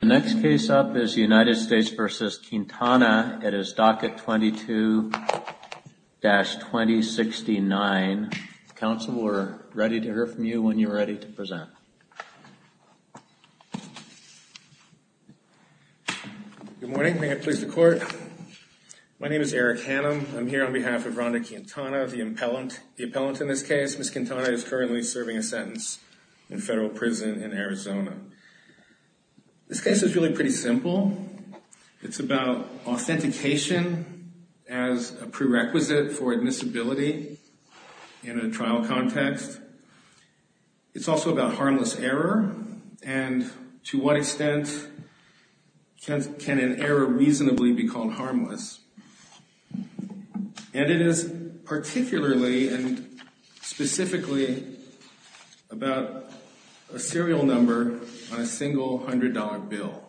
The next case up is United States v. Quintana. It is docket 22-2069. Counsel, we're ready to hear from you when you're ready to present. Good morning. May it please the court. My name is Eric Hannum. I'm here on behalf of Rhonda Quintana, the appellant. The appellant in this case, Ms. Quintana, is currently serving a sentence in federal prison in Arizona. This case is really pretty simple. It's about authentication as a prerequisite for admissibility in a trial context. It's also about harmless error and to what extent can an error reasonably be called harmless. And it is particularly and specifically about a serial number on a single $100 bill.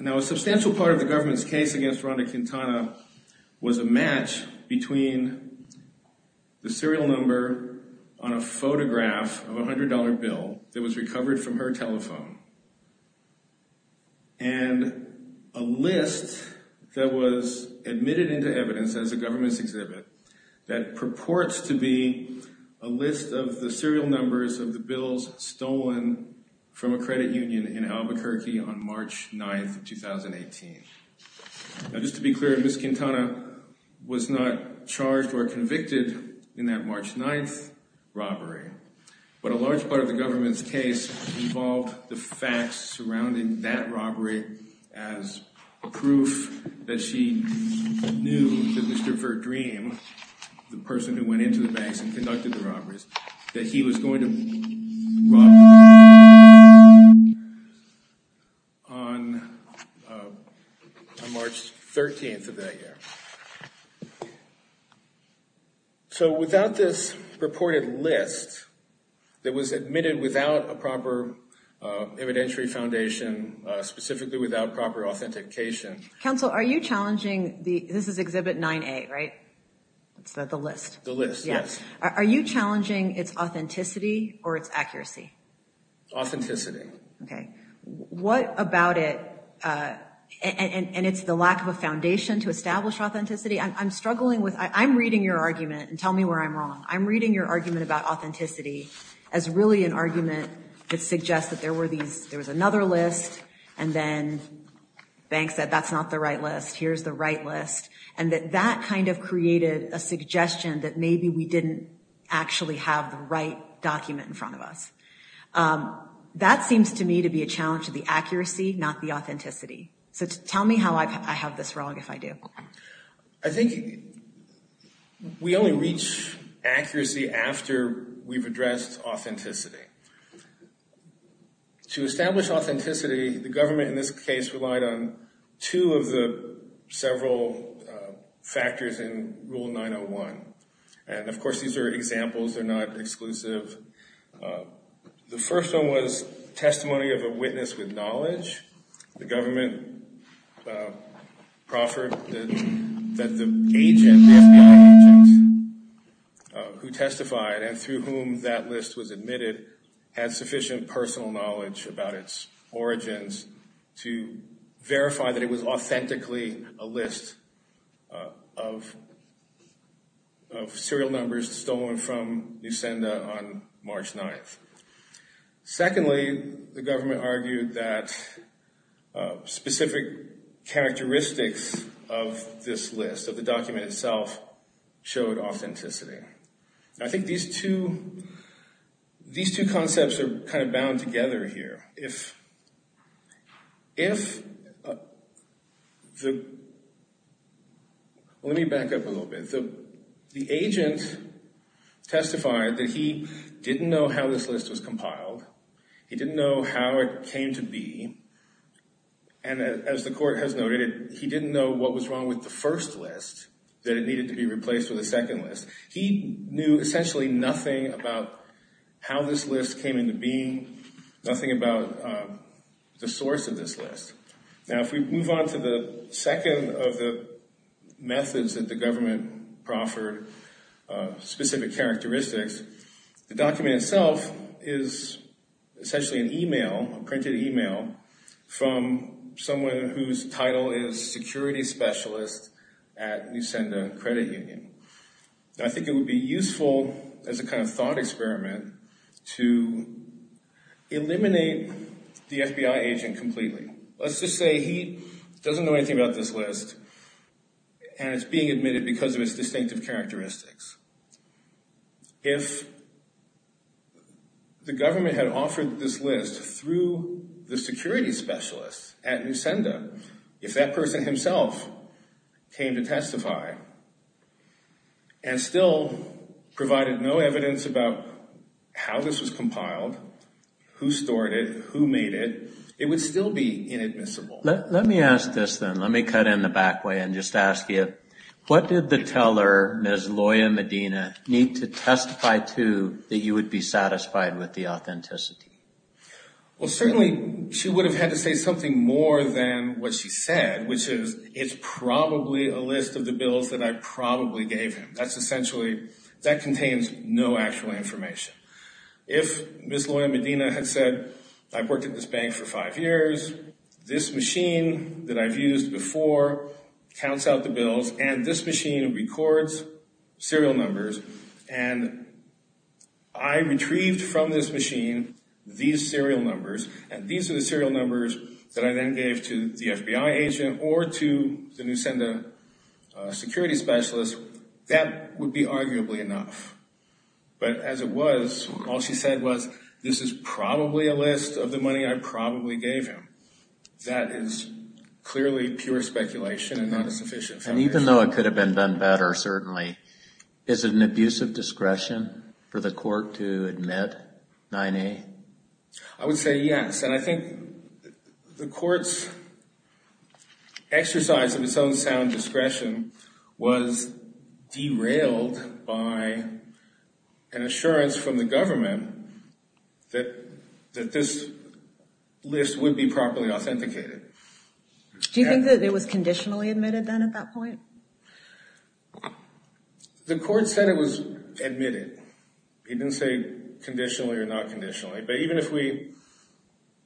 Now, a substantial part of the government's case against Rhonda Quintana was a match between the serial number on a photograph of a $100 bill that was recovered from her telephone and a list that was admitted into evidence as a government's exhibit that lists of the serial numbers of the bills stolen from a credit union in Albuquerque on March 9th, 2018. Now, just to be clear, Ms. Quintana was not charged or convicted in that March 9th robbery, but a large part of the government's case involved the facts surrounding that robbery as proof that she knew that Mr. Verdream, the person who went into the banks and conducted the robberies, that he was going to rob her on March 13th of that year. So, without this purported list that was admitted without a proper evidentiary foundation, specifically without proper authentication... Counsel, are you challenging... This is exhibit 9A, right? It's the list. The list, yes. Are you challenging its authenticity or its accuracy? Authenticity. Okay. What about it... And it's the lack of a foundation to establish authenticity? I'm struggling with... I'm reading your argument, and tell me where I'm wrong. I'm reading your argument about authenticity as really an argument that suggests that there was another list and then banks said, that's not the right list. Here's the right list. And that that kind of created a suggestion that maybe we didn't actually have the right document in front of us. That seems to me to be a challenge to the accuracy, not the authenticity. So, tell me how I have this wrong if I do. I think we only reach accuracy after we've addressed authenticity. To establish authenticity, the government in this case relied on two of the several factors in Rule 901. And, of course, these are examples. They're not exclusive. The first one was testimony of a witness with the FBI agent who testified, and through whom that list was admitted, had sufficient personal knowledge about its origins to verify that it was authentically a list of serial numbers stolen from Nusenda on March 9th. Secondly, the government argued that specific characteristics of this list, of the document itself, showed authenticity. I think these two concepts are kind of bound together here. If the... Let me back up a little bit. The agent testified that he didn't know how this list was compiled. He didn't know how it came to be. As the court has noted, he didn't know what was wrong with the first list, that it needed to be replaced with a second list. He knew essentially nothing about how this list came into being, nothing about the source of this list. Now, if we move on to the second of the methods that the government proffered, specific characteristics, the document itself is essentially an email, a printed email, from someone whose title is security specialist at Nusenda Credit Union. I think it would be useful as a kind of thought experiment to eliminate the FBI agent completely. Let's just say he doesn't know anything about this list and it's being admitted because of its distinctive characteristics. If the government had offered this list through the security specialist at Nusenda, if that person himself came to testify and still provided no evidence about how this was compiled, who stored it, who made it, it would still be inadmissible. Let me ask this then. Let me cut in the back way and just ask you, what did the teller, Ms. Loya Medina, need to testify to that you would be satisfied with the authenticity? Well, certainly she would have had to say something more than what she said, which is, it's probably a list of the bills that I probably gave him. That contains no actual information. If Ms. Loya Medina had said, I've worked at this bank for five years, this machine that I've used before counts out the bills, and this machine records serial numbers, and I retrieved from this machine these serial numbers, and these are the serial numbers that I then gave to the FBI agent or to the Nusenda security specialist, that would be all she said was, this is probably a list of the money I probably gave him. That is clearly pure speculation and not a sufficient foundation. Even though it could have been done better, certainly, is it an abusive discretion for the court to admit 9A? I would say yes, and I think the court's exercise of its own sound discretion was derailed by an assurance from the government that this list would be properly authenticated. Do you think that it was conditionally admitted then at that point? The court said it was admitted. It didn't say conditionally or not conditionally, but even if we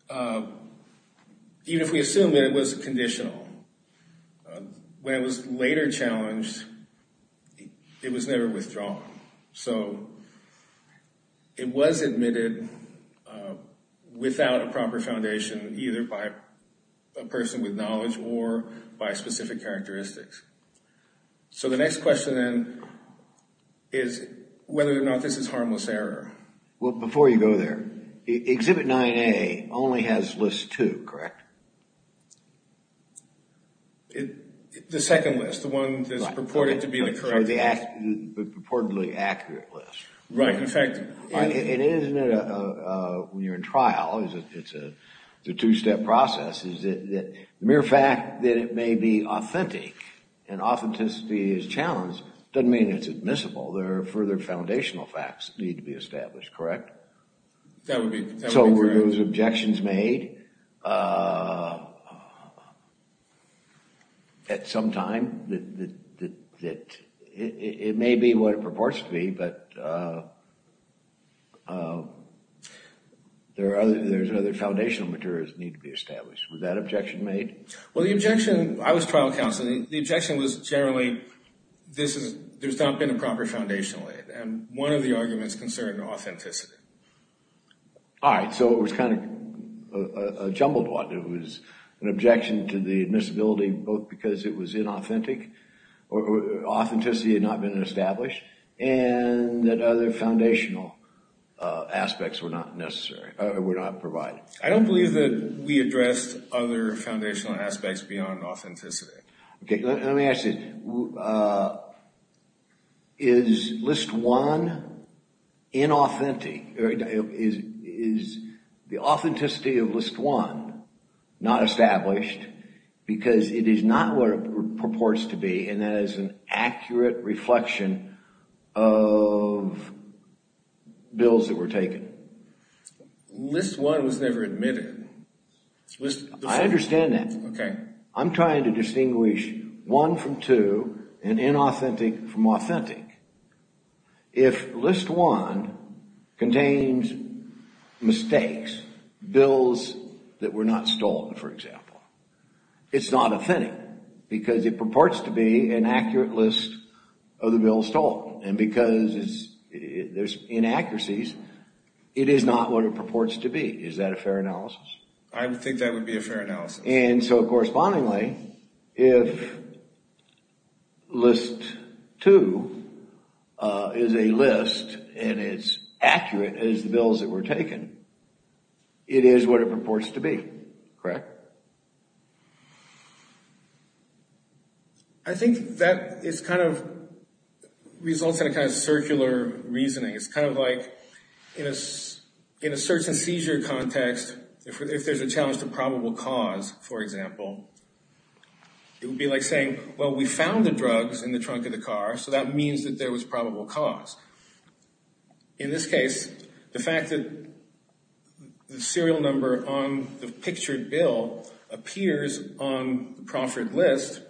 assume that it was conditional, when it was later challenged, it was not ever withdrawn. It was admitted without a proper foundation, either by a person with knowledge or by specific characteristics. The next question then is whether or not this is harmless error. Before you go there, Exhibit 9A only has list two, correct? The second list, the one that's purported to be the correct list. The purportedly accurate list. Right. In fact, It is, when you're in trial, it's a two-step process. The mere fact that it may be authentic and authenticity is challenged doesn't mean it's admissible. There are further foundational facts that need to be established, correct? That would be correct. Also, were those objections made at some time? It may be what it purports to be, but there are other foundational materials that need to be established. Was that objection made? I was trial counsel. The objection was generally, there's not been a proper foundational aid. One of the arguments concerned authenticity. All right. So it was kind of a jumbled one. It was an objection to the admissibility both because it was inauthentic or authenticity had not been established and that other foundational aspects were not necessary, were not provided. I don't believe that we addressed other foundational aspects beyond authenticity. Let me ask you, is list one inauthentic? Is the authenticity of list one not established because it is not what it purports to be and that is an accurate reflection of bills that were taken? List one was never admitted. I understand that. I'm trying to distinguish one from two and inauthentic from authentic. If list one contains mistakes, bills that were not stolen, for example, it's not authentic because it purports to be an accurate list of the bills stolen and because there's inaccuracies, it is not what it purports to be. Is that a fair analysis? I would think that would be a fair analysis. And so correspondingly, if list two is a list and it's accurate as the bills that were taken, it is what it purports to be, correct? I think that it's kind of results in a kind of circular reasoning. It's kind of like in a search and seizure context, if there's a challenge to probable cause, for example, it would be like saying, well, we found the drugs in the trunk of the car, so that means that there was probable cause. In this case, the fact that the serial number on the pictured bill appears on the proffered list,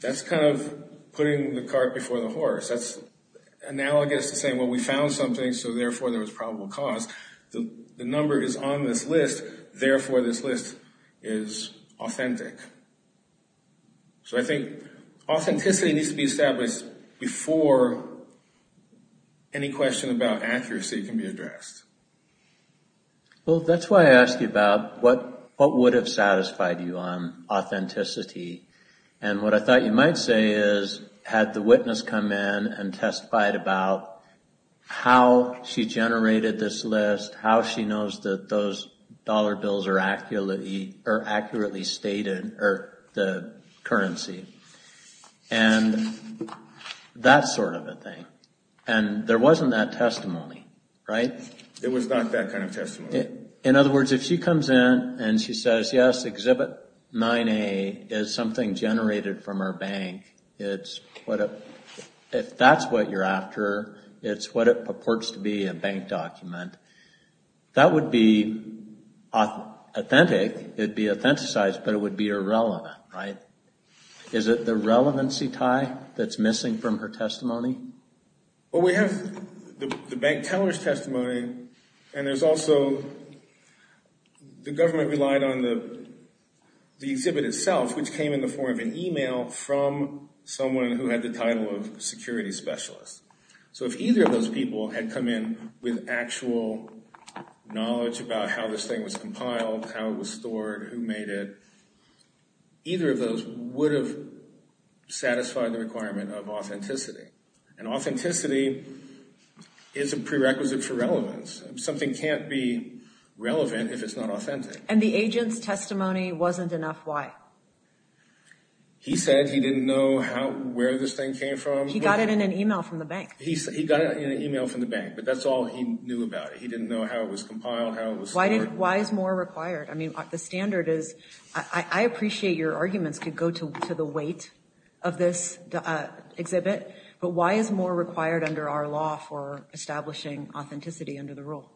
that's kind of putting the cart before the horse. That's analogous to saying, well, we found something, so therefore there was probable cause. The number is on this list, therefore this list is authentic. So I think authenticity needs to be established before any question about accuracy can be addressed. Well, that's why I asked you about what would have satisfied you on authenticity. And what I thought you might say is, had the witness come in and testified about how she generated this list, how she knows that those dollar bills are accurately stated, or the currency, and that sort of a thing. And there wasn't that testimony, right? It was not that kind of testimony. In other words, if she comes in and she says, yes, Exhibit 9A is something generated from our bank, if that's what you're after, it's what it purports to be, a bank document, that would be authentic. It would be authenticized, but it would be irrelevant, right? Is it the relevancy tie that's missing from her testimony? Well, we have the bank teller's testimony, and there's also the government relied on the exhibit itself, which came in the form of an email from someone who had the title of security specialist. So if either of those people had come in with actual knowledge about how this thing was compiled, how it was stored, who made it, either of those would have satisfied the requirement of authenticity. And authenticity is a prerequisite for relevance. Something can't be relevant if it's not authentic. And the agent's testimony wasn't enough, why? He said he didn't know where this thing came from. He got it in an email from the bank. He got it in an email from the bank, but that's all he knew about it. He didn't know how it was compiled, how it was stored. Why is more required? I mean, the standard is, I appreciate your arguments could go to the weight of this exhibit, but why is more required under our law for establishing authenticity under the rule?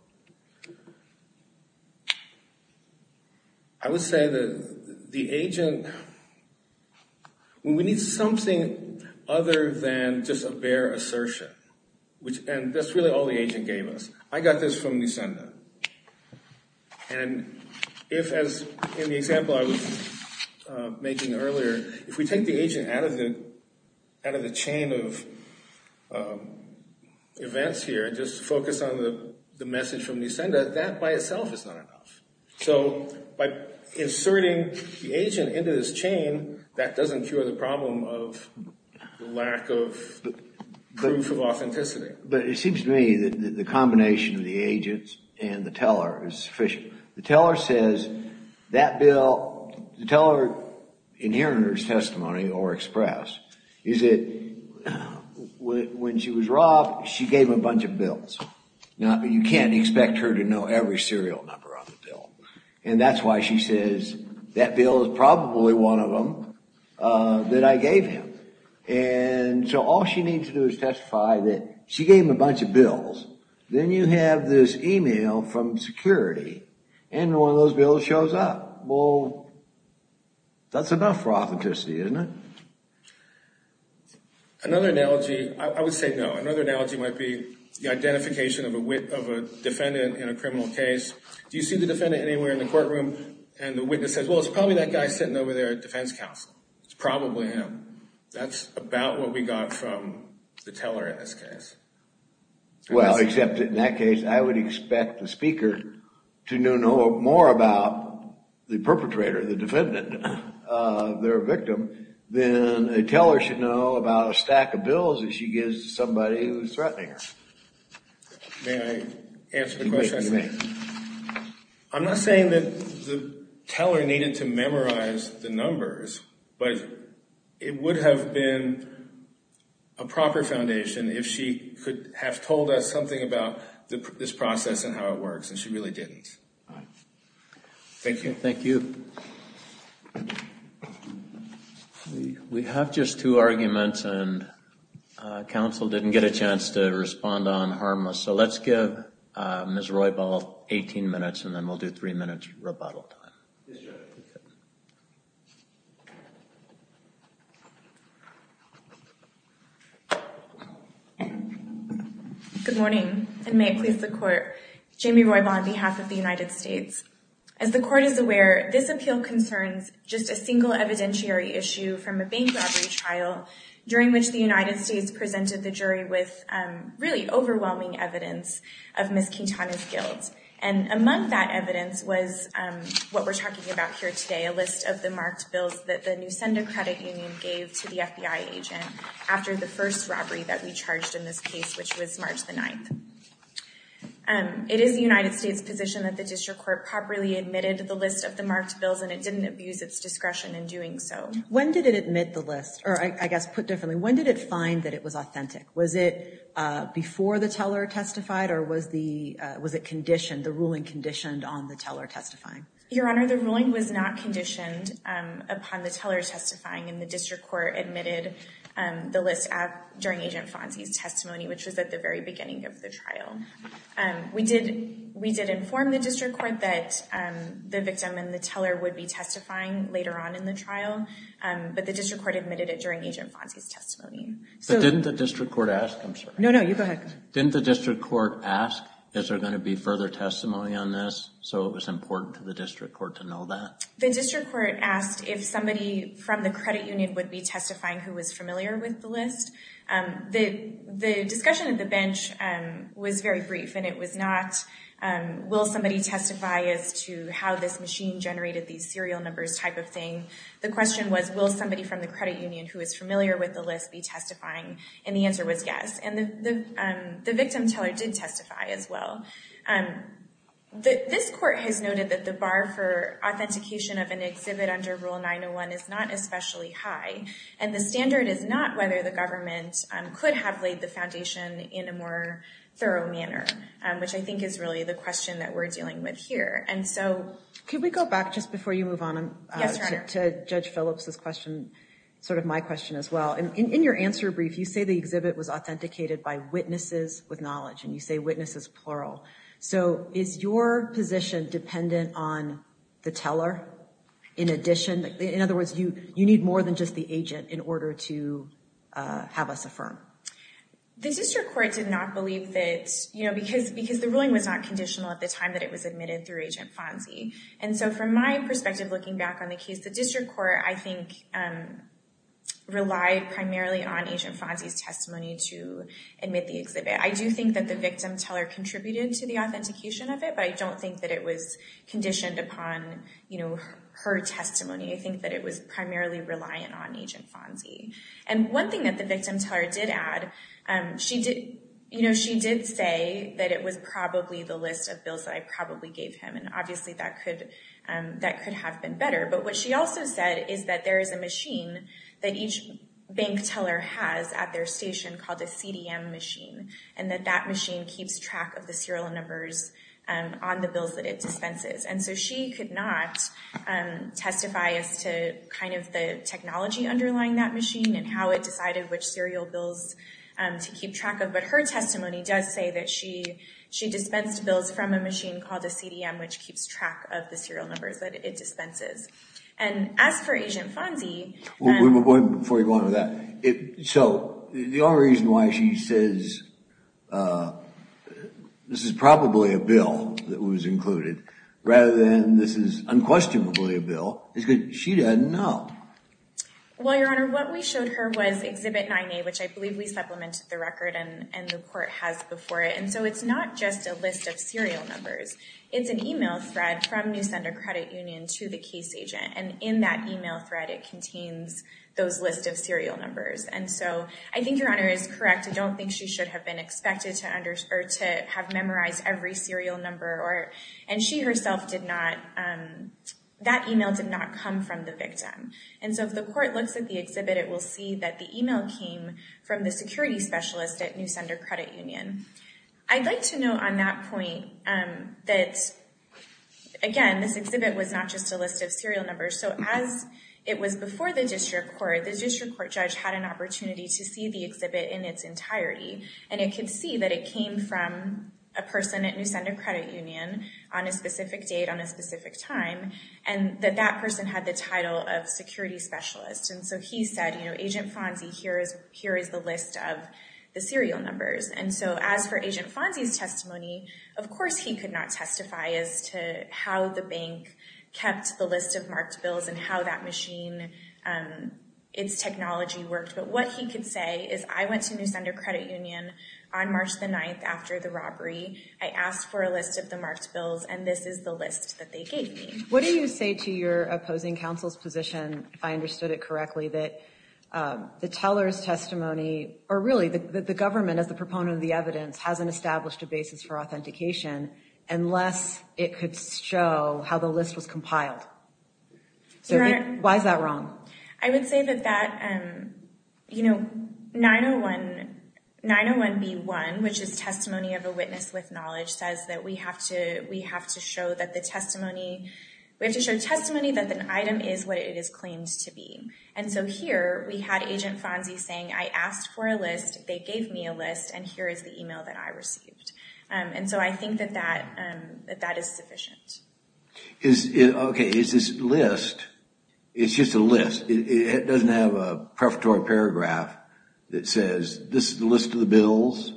I would say that the agent, we need something other than just a bare assertion. And that's really all the agent gave us. I got this from Nisenda. And if, as in the example I was making earlier, if we take the agent out of the chain of events here, just focus on the message from Nisenda, that by itself is not enough. So by inserting the agent into this chain, that doesn't cure the problem of lack of proof of authenticity. But it seems to me that the combination of the agents and the teller is sufficient. The teller says that bill, the teller, in hearing her testimony or express, is that when she was robbed, she gave him a bunch of bills. You can't expect her to know every serial number on the bill. And that's why she says that bill is probably one of them that I gave him. And so all she needs to do is testify that she gave him a bunch of bills. Then you have this email from security, and one of those bills shows up. Well, that's enough for authenticity, isn't it? Another analogy, I would say no. Another analogy might be the identification of a defendant in a criminal case. Do you see the defendant anywhere in the courtroom? And the witness says, well, it's probably that guy sitting over there at defense counsel. It's probably him. That's about what we got from the teller in this case. Well, except in that case, I would expect the speaker to know more about the perpetrator, the defendant, their victim, than a teller should know about a stack of bills that she gives to somebody who's threatening her. May I answer the question? I'm not saying that the teller needed to memorize the numbers, but it would have been a proper foundation if she could have told us something about this process and how it works, and she really didn't. Thank you. Thank you. We have just two arguments, and counsel didn't get a chance to respond on harmless. So let's give Ms. Roybal 18 minutes, and then we'll do three minutes rebuttal time. Good morning, and may it please the Court. Jamie Roybal on behalf of the United States. As the Court is aware, this appeal concerns just a single evidentiary issue from a bank robbery trial during which the United States presented the jury with really overwhelming evidence of Ms. Quintana's guilt, and among that evidence was what we're talking about here today, a list of the marked bills that the Nusenda Credit Union gave to the FBI agent after the first robbery that we charged in this case, which was March the 9th. It is the United States' position that the district court properly admitted the list of the marked bills, and it didn't abuse its discretion in doing so. When did it admit the list, or I guess put differently, when did it find that it was authentic? Was it before the teller testified, or was it conditioned, the ruling conditioned on the teller testifying? Your Honor, the ruling was not conditioned upon the teller testifying, and the district court admitted the list during Agent Fonzie's testimony, which was at the very beginning of the trial. We did inform the district court that the victim and the teller would be testifying later on in the trial, but the district court admitted it during Agent Fonzie's testimony. But didn't the district court ask? No, no, you go ahead. Didn't the district court ask, is there going to be further testimony on this, so it was important to the district court to know that? The district court asked if somebody from the credit union would be testifying who was familiar with the list. The discussion at the bench was very brief, and it was not will somebody testify as to how this machine generated these serial numbers type of thing. The question was will somebody from the credit union who is familiar with the list be testifying, and the answer was yes, and the victim teller did testify as well. This court has noted that the bar for authentication of an exhibit under Rule 901 is not especially high, and the standard is not whether the government could have laid the foundation in a more thorough manner, which I think is really the question that we're dealing with here. Could we go back just before you move on to Judge Phillips' question, sort of my question as well. In your answer brief, you say the exhibit was authenticated by witnesses with knowledge, and you say witnesses plural. So is your position dependent on the teller in addition? In other words, you need more than just the agent in order to have us affirm. The district court did not believe that, you know, because the ruling was not conditional at the time that it was admitted through Agent Fonzie. And so from my perspective, looking back on the case, the district court, I think, relied primarily on Agent Fonzie's testimony to admit the exhibit. I do think that the victim teller contributed to the authentication of it, but I don't think that it was conditioned upon, you know, her testimony. I think that it was primarily reliant on Agent Fonzie. And one thing that the victim teller did add, you know, she did say that it was probably the list of bills that I probably gave him, and obviously that could have been better. But what she also said is that there is a machine that each bank teller has at their station called a CDM machine, and that that machine keeps track of the serial numbers on the bills that it dispenses. And so she could not testify as to kind of the technology underlying that machine and how it decided which serial bills to keep track of. But her testimony does say that she dispensed bills from a machine called a CDM, which keeps track of the serial numbers that it dispenses. And as for Agent Fonzie— So the only reason why she says this is probably a bill that was included rather than this is unquestionably a bill is because she didn't know. Well, Your Honor, what we showed her was Exhibit 9A, which I believe we supplemented the record and the court has before it. And so it's not just a list of serial numbers. It's an email thread from Nusender Credit Union to the case agent. And in that email thread, it contains those lists of serial numbers. And so I think Your Honor is correct. I don't think she should have been expected to have memorized every serial number. And she herself did not—that email did not come from the victim. And so if the court looks at the exhibit, it will see that the email came from the security specialist at Nusender Credit Union. I'd like to note on that point that, again, this exhibit was not just a list of serial numbers. So as it was before the district court, the district court judge had an opportunity to see the exhibit in its entirety. And it could see that it came from a person at Nusender Credit Union on a specific date, on a specific time, and that that person had the title of security specialist. And so he said, you know, Agent Fonzie, here is the list of the serial numbers. And so as for Agent Fonzie's testimony, of course he could not testify as to how the bank kept the list of marked bills and how that machine, its technology worked. But what he could say is, I went to Nusender Credit Union on March the 9th after the robbery. I asked for a list of the marked bills, and this is the list that they gave me. What do you say to your opposing counsel's position, if I understood it correctly, that the teller's testimony, or really the government as the proponent of the evidence, hasn't established a basis for authentication unless it could show how the list was compiled? So why is that wrong? I would say that that, you know, 901B1, which is testimony of a witness with knowledge, says that we have to show that the testimony, we have to show testimony that the item is what it is claimed to be. And so here we had Agent Fonzie saying, I asked for a list, they gave me a list, and here is the email that I received. And so I think that that is sufficient. Okay, is this list, it's just a list? It doesn't have a prefatory paragraph that says, this is the list of the bills,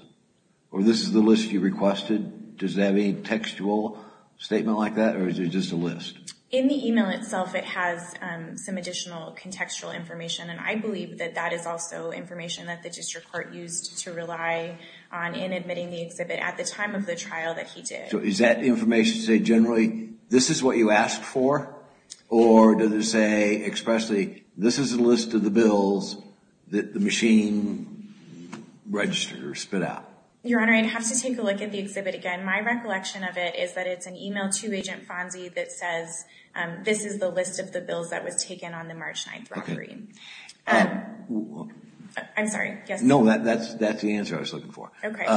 or this is the list you requested? Does it have any textual statement like that, or is it just a list? In the email itself, it has some additional contextual information, and I believe that that is also information that the district court used to rely on in admitting the exhibit at the time of the trial that he did. So is that information to say generally, this is what you asked for? Or does it say expressly, this is a list of the bills that the machine registered or spit out? Your Honor, I'd have to take a look at the exhibit again. My recollection of it is that it's an email to Agent Fonzie that says, this is the list of the bills that was taken on the March 9th robbery. I'm sorry, yes? No, that's the answer I was looking for. Okay.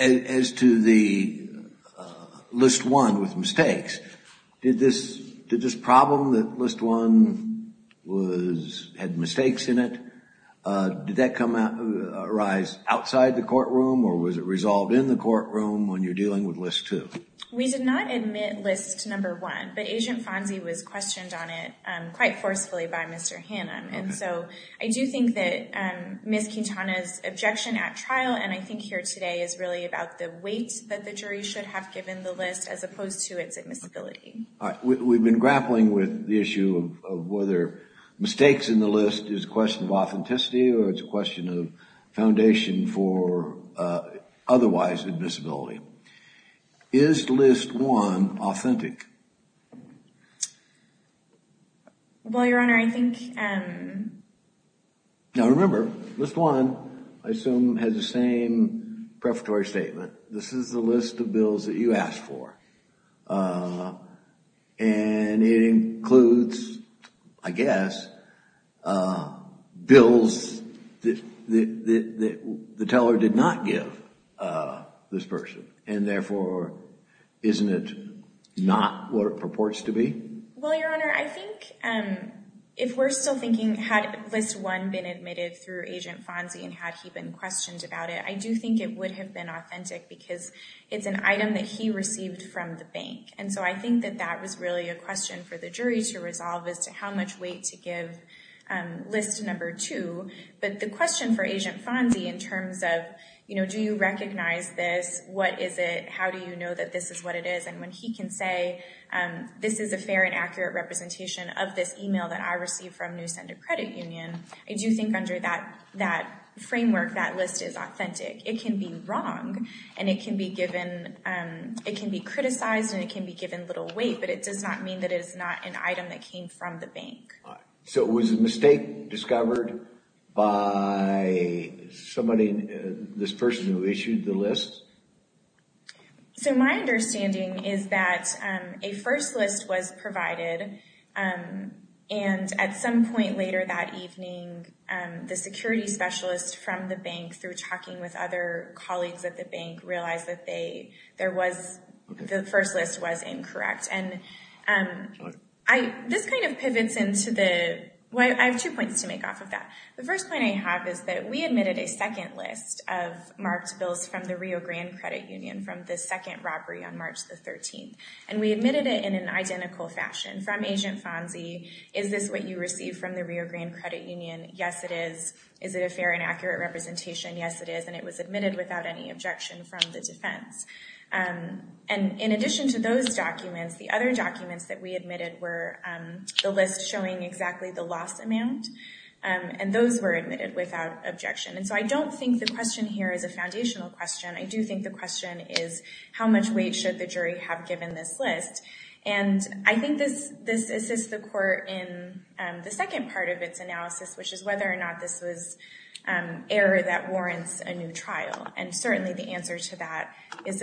As to the List 1 with mistakes, did this problem that List 1 had mistakes in it, did that arise outside the courtroom, or was it resolved in the courtroom when you're dealing with List 2? We did not admit List 1, but Agent Fonzie was questioned on it quite forcefully by Mr. Hannum. So I do think that Ms. Quintana's objection at trial and I think here today is really about the weight that the jury should have given the list as opposed to its admissibility. We've been grappling with the issue of whether mistakes in the list is a question of authenticity or it's a question of foundation for otherwise admissibility. Is List 1 authentic? Well, Your Honor, I think... Now remember, List 1, I assume, has the same prefatory statement. This is the list of bills that you asked for. And it includes, I guess, bills that the teller did not give this person. And therefore, isn't it not what it purports to be? Well, Your Honor, I think if we're still thinking, had List 1 been admitted through Agent Fonzie and had he been questioned about it, I do think it would have been authentic because it's an item that he received from the bank. And so I think that that was really a question for the jury to resolve as to how much weight to give List 2. But the question for Agent Fonzie in terms of, you know, do you recognize this? What is it? How do you know that this is what it is? And when he can say, this is a fair and accurate representation of this email that I received from New Center Credit Union, I do think under that framework, that list is authentic. It can be wrong, and it can be criticized, and it can be given little weight, but it does not mean that it is not an item that came from the bank. So it was a mistake discovered by somebody, this person who issued the list? So my understanding is that a first list was provided, and at some point later that evening, the security specialist from the bank, through talking with other colleagues at the bank, realized that the first list was incorrect. And this kind of pivots into the—well, I have two points to make off of that. The first point I have is that we admitted a second list of marked bills from the Rio Grande Credit Union from the second robbery on March the 13th, and we admitted it in an identical fashion. From Agent Fonzie, is this what you received from the Rio Grande Credit Union? Yes, it is. Is it a fair and accurate representation? Yes, it is. And it was admitted without any objection from the defense. And in addition to those documents, the other documents that we admitted were the list showing exactly the loss amount, and those were admitted without objection. And so I don't think the question here is a foundational question. I do think the question is, how much weight should the jury have given this list? And I think this assists the court in the second part of its analysis, which is whether or not this was error that warrants a new trial. And certainly the answer to that is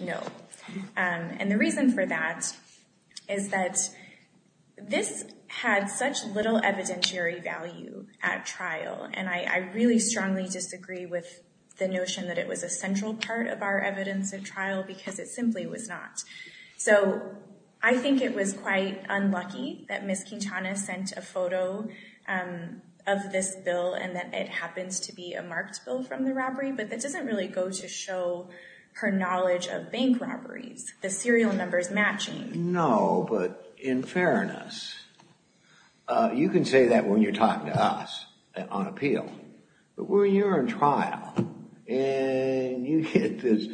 no. And the reason for that is that this had such little evidentiary value at trial, and I really strongly disagree with the notion that it was a central part of our evidence at trial because it simply was not. So I think it was quite unlucky that Ms. Quintana sent a photo of this bill and that it happens to be a marked bill from the robbery, but that doesn't really go to show her knowledge of bank robberies, the serial numbers matching. No, but in fairness, you can say that when you're talking to us on appeal. But when you're in trial and you get this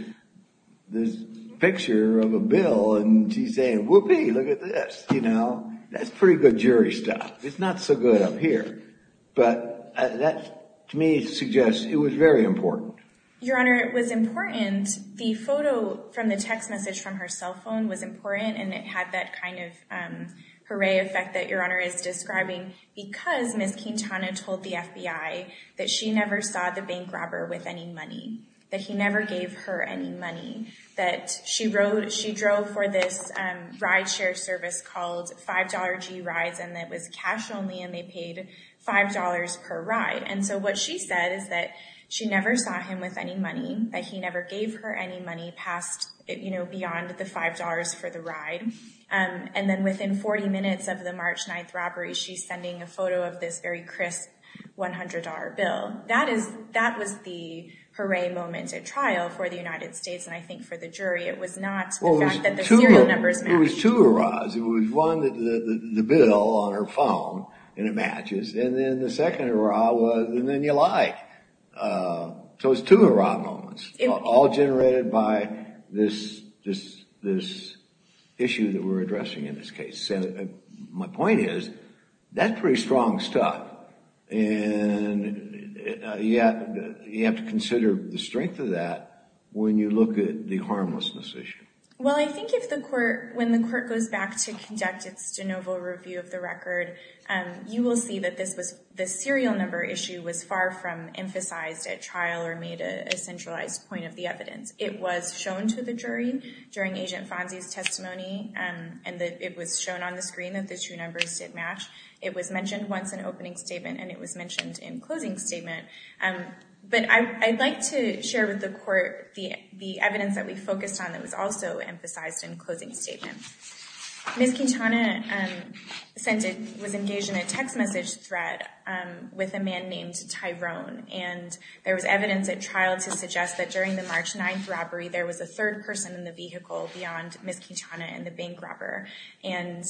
picture of a bill and she's saying, whoopee, look at this, you know, that's pretty good jury stuff. It's not so good up here. But that to me suggests it was very important. Your Honor, it was important. The photo from the text message from her cell phone was important, and it had that kind of hooray effect that Your Honor is describing because Ms. Quintana told the FBI that she never saw the bank robber with any money, that he never gave her any money, that she drove for this ride share service called $5G Rides, and that it was cash only and they paid $5 per ride. And so what she said is that she never saw him with any money, that he never gave her any money past, you know, beyond the $5 for the ride. And then within 40 minutes of the March 9th robbery, she's sending a photo of this very crisp $100 bill. That was the hooray moment at trial for the United States. And I think for the jury, it was not the fact that the serial numbers matched. It was two hoorahs. It was one, the bill on her phone, and it matches. And then the second hoorah was, and then you lied. So it was two hoorah moments, all generated by this issue that we're addressing in this case. My point is, that's pretty strong stuff. And you have to consider the strength of that when you look at the harmlessness issue. Well, I think if the court, when the court goes back to conduct its de novo review of the record, you will see that this was the serial number issue was far from emphasized at trial or made a centralized point of the evidence. It was shown to the jury during Agent Fonzie's testimony, and it was shown on the screen that the two numbers did match. It was mentioned once in opening statement and it was mentioned in closing statement. But I'd like to share with the court the evidence that we focused on that was also emphasized in closing statement. Ms. Quintana was engaged in a text message threat with a man named Tyrone. And there was evidence at trial to suggest that during the March 9th robbery, there was a third person in the vehicle beyond Ms. Quintana and the bank robber. And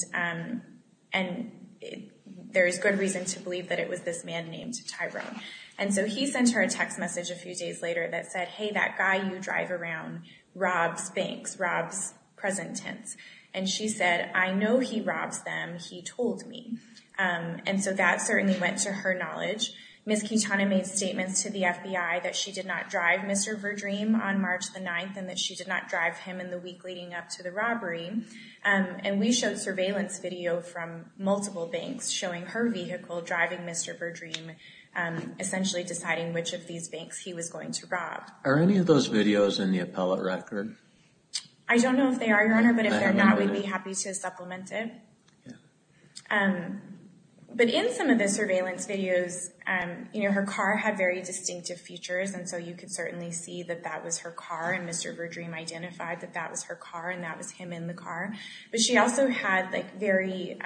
there is good reason to believe that it was this man named Tyrone. And so he sent her a text message a few days later that said, hey, that guy you drive around robs banks, robs present tense. And she said, I know he robs them. He told me. And so that certainly went to her knowledge. Ms. Quintana made statements to the FBI that she did not drive Mr. Verdream on March the 9th and that she did not drive him in the week leading up to the robbery. And we showed surveillance video from multiple banks showing her vehicle driving Mr. Verdream, essentially deciding which of these banks he was going to rob. Are any of those videos in the appellate record? I don't know if they are, Your Honor, but if they're not, we'd be happy to supplement it. But in some of the surveillance videos, her car had very distinctive features. And so you could certainly see that that was her car. And Mr. Verdream identified that that was her car and that was him in the car. But she also had very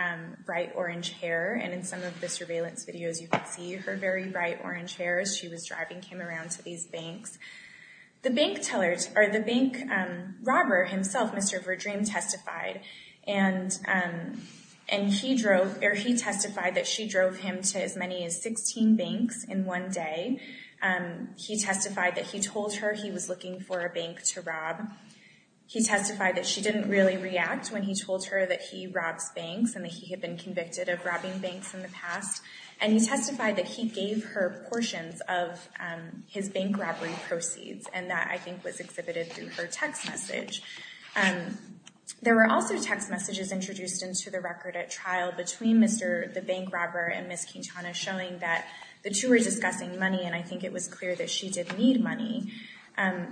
bright orange hair. And in some of the surveillance videos, you could see her very bright orange hair as she was driving him around to these banks. The bank robber himself, Mr. Verdream, testified. And he testified that she drove him to as many as 16 banks in one day. He testified that he told her he was looking for a bank to rob. He testified that she didn't really react when he told her that he robs banks and that he had been convicted of robbing banks in the past. And he testified that he gave her portions of his bank robbery proceeds. And that, I think, was exhibited through her text message. There were also text messages introduced into the record at trial between the bank robber and Ms. Quintana, showing that the two were discussing money, and I think it was clear that she did need money.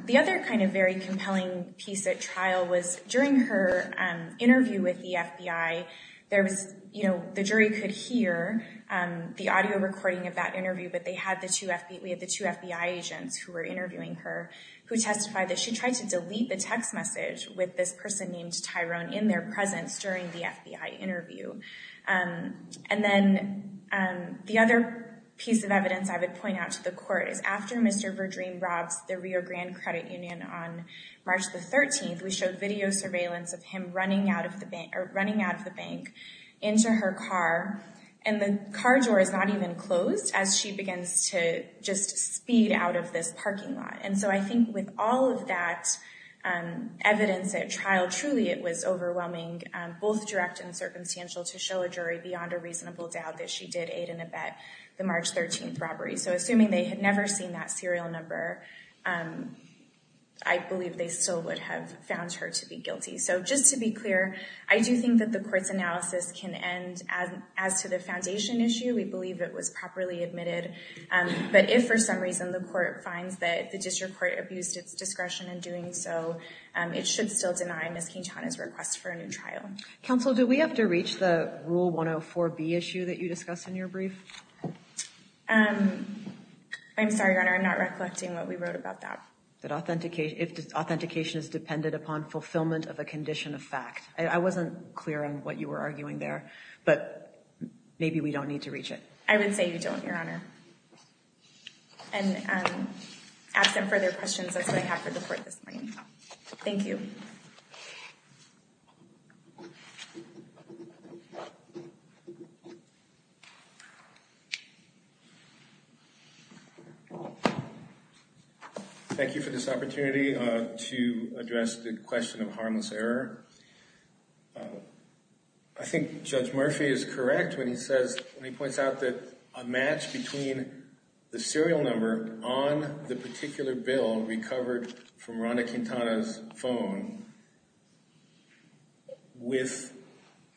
The other kind of very compelling piece at trial was during her interview with the FBI, the jury could hear the audio recording of that interview, but we had the two FBI agents who were interviewing her, who testified that she tried to delete the text message with this person named Tyrone in their presence during the FBI interview. And then the other piece of evidence I would point out to the court is after Mr. Verdream robs the Rio Grande Credit Union on March the 13th, we showed video surveillance of him running out of the bank into her car, and the car door is not even closed as she begins to just speed out of this parking lot. And so I think with all of that evidence at trial, truly it was overwhelming, both direct and circumstantial, to show a jury beyond a reasonable doubt that she did aid and abet the March 13th robbery. So assuming they had never seen that serial number, I believe they still would have found her to be guilty. So just to be clear, I do think that the court's analysis can end as to the foundation issue. We believe it was properly admitted. But if for some reason the court finds that the district court abused its discretion in doing so, it should still deny Ms. Quintana's request for a new trial. Counsel, do we have to reach the Rule 104B issue that you discussed in your brief? I'm sorry, Your Honor, I'm not recollecting what we wrote about that. That authentication is dependent upon fulfillment of a condition of fact. I wasn't clear on what you were arguing there, but maybe we don't need to reach it. I would say we don't, Your Honor. And absent further questions, that's what I have for the court this morning. Thank you. Thank you. Thank you for this opportunity to address the question of harmless error. I think Judge Murphy is correct when he says, when he points out that a match between the serial number on the particular bill recovered from Rhonda Quintana's phone with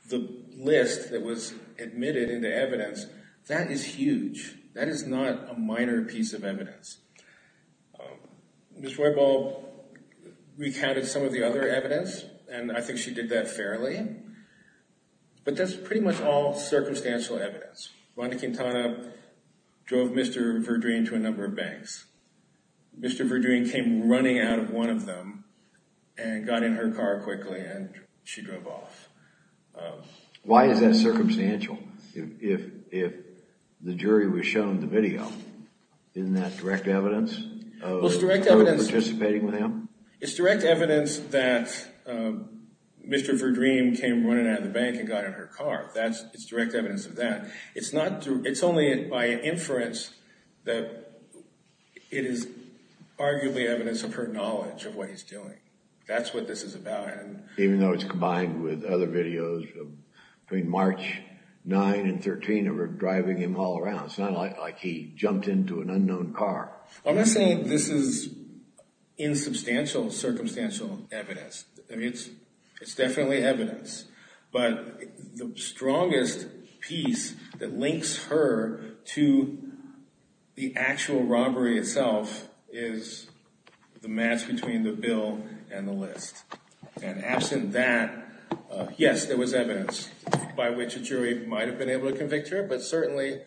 the list that was admitted into evidence, that is huge. That is not a minor piece of evidence. Ms. Roybal recounted some of the other evidence, and I think she did that fairly. But that's pretty much all circumstantial evidence. Rhonda Quintana drove Mr. Verdrine to a number of banks. Mr. Verdrine came running out of one of them and got in her car quickly and she drove off. Why is that circumstantial if the jury was shown the video? Isn't that direct evidence of participating with him? It's direct evidence that Mr. Verdrine came running out of the bank and got in her car. It's direct evidence of that. It's only by inference that it is arguably evidence of her knowledge of what he's doing. That's what this is about. Even though it's combined with other videos between March 9 and 13 of her driving him all around. It's not like he jumped into an unknown car. I'm not saying this is insubstantial circumstantial evidence. It's definitely evidence. But the strongest piece that links her to the actual robbery itself is the match between the bill and the list. And absent that, yes, there was evidence by which a jury might have been able to convict her. But certainly,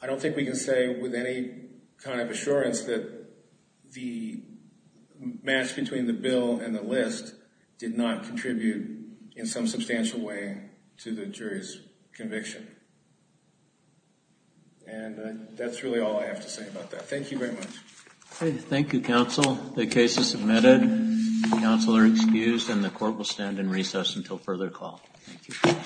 I don't think we can say with any kind of assurance that the match between the bill and the list did not contribute in some substantial way to the jury's conviction. And that's really all I have to say about that. Thank you very much. Thank you, counsel. The case is submitted. Counsel are excused and the court will stand in recess until further call. Thank you.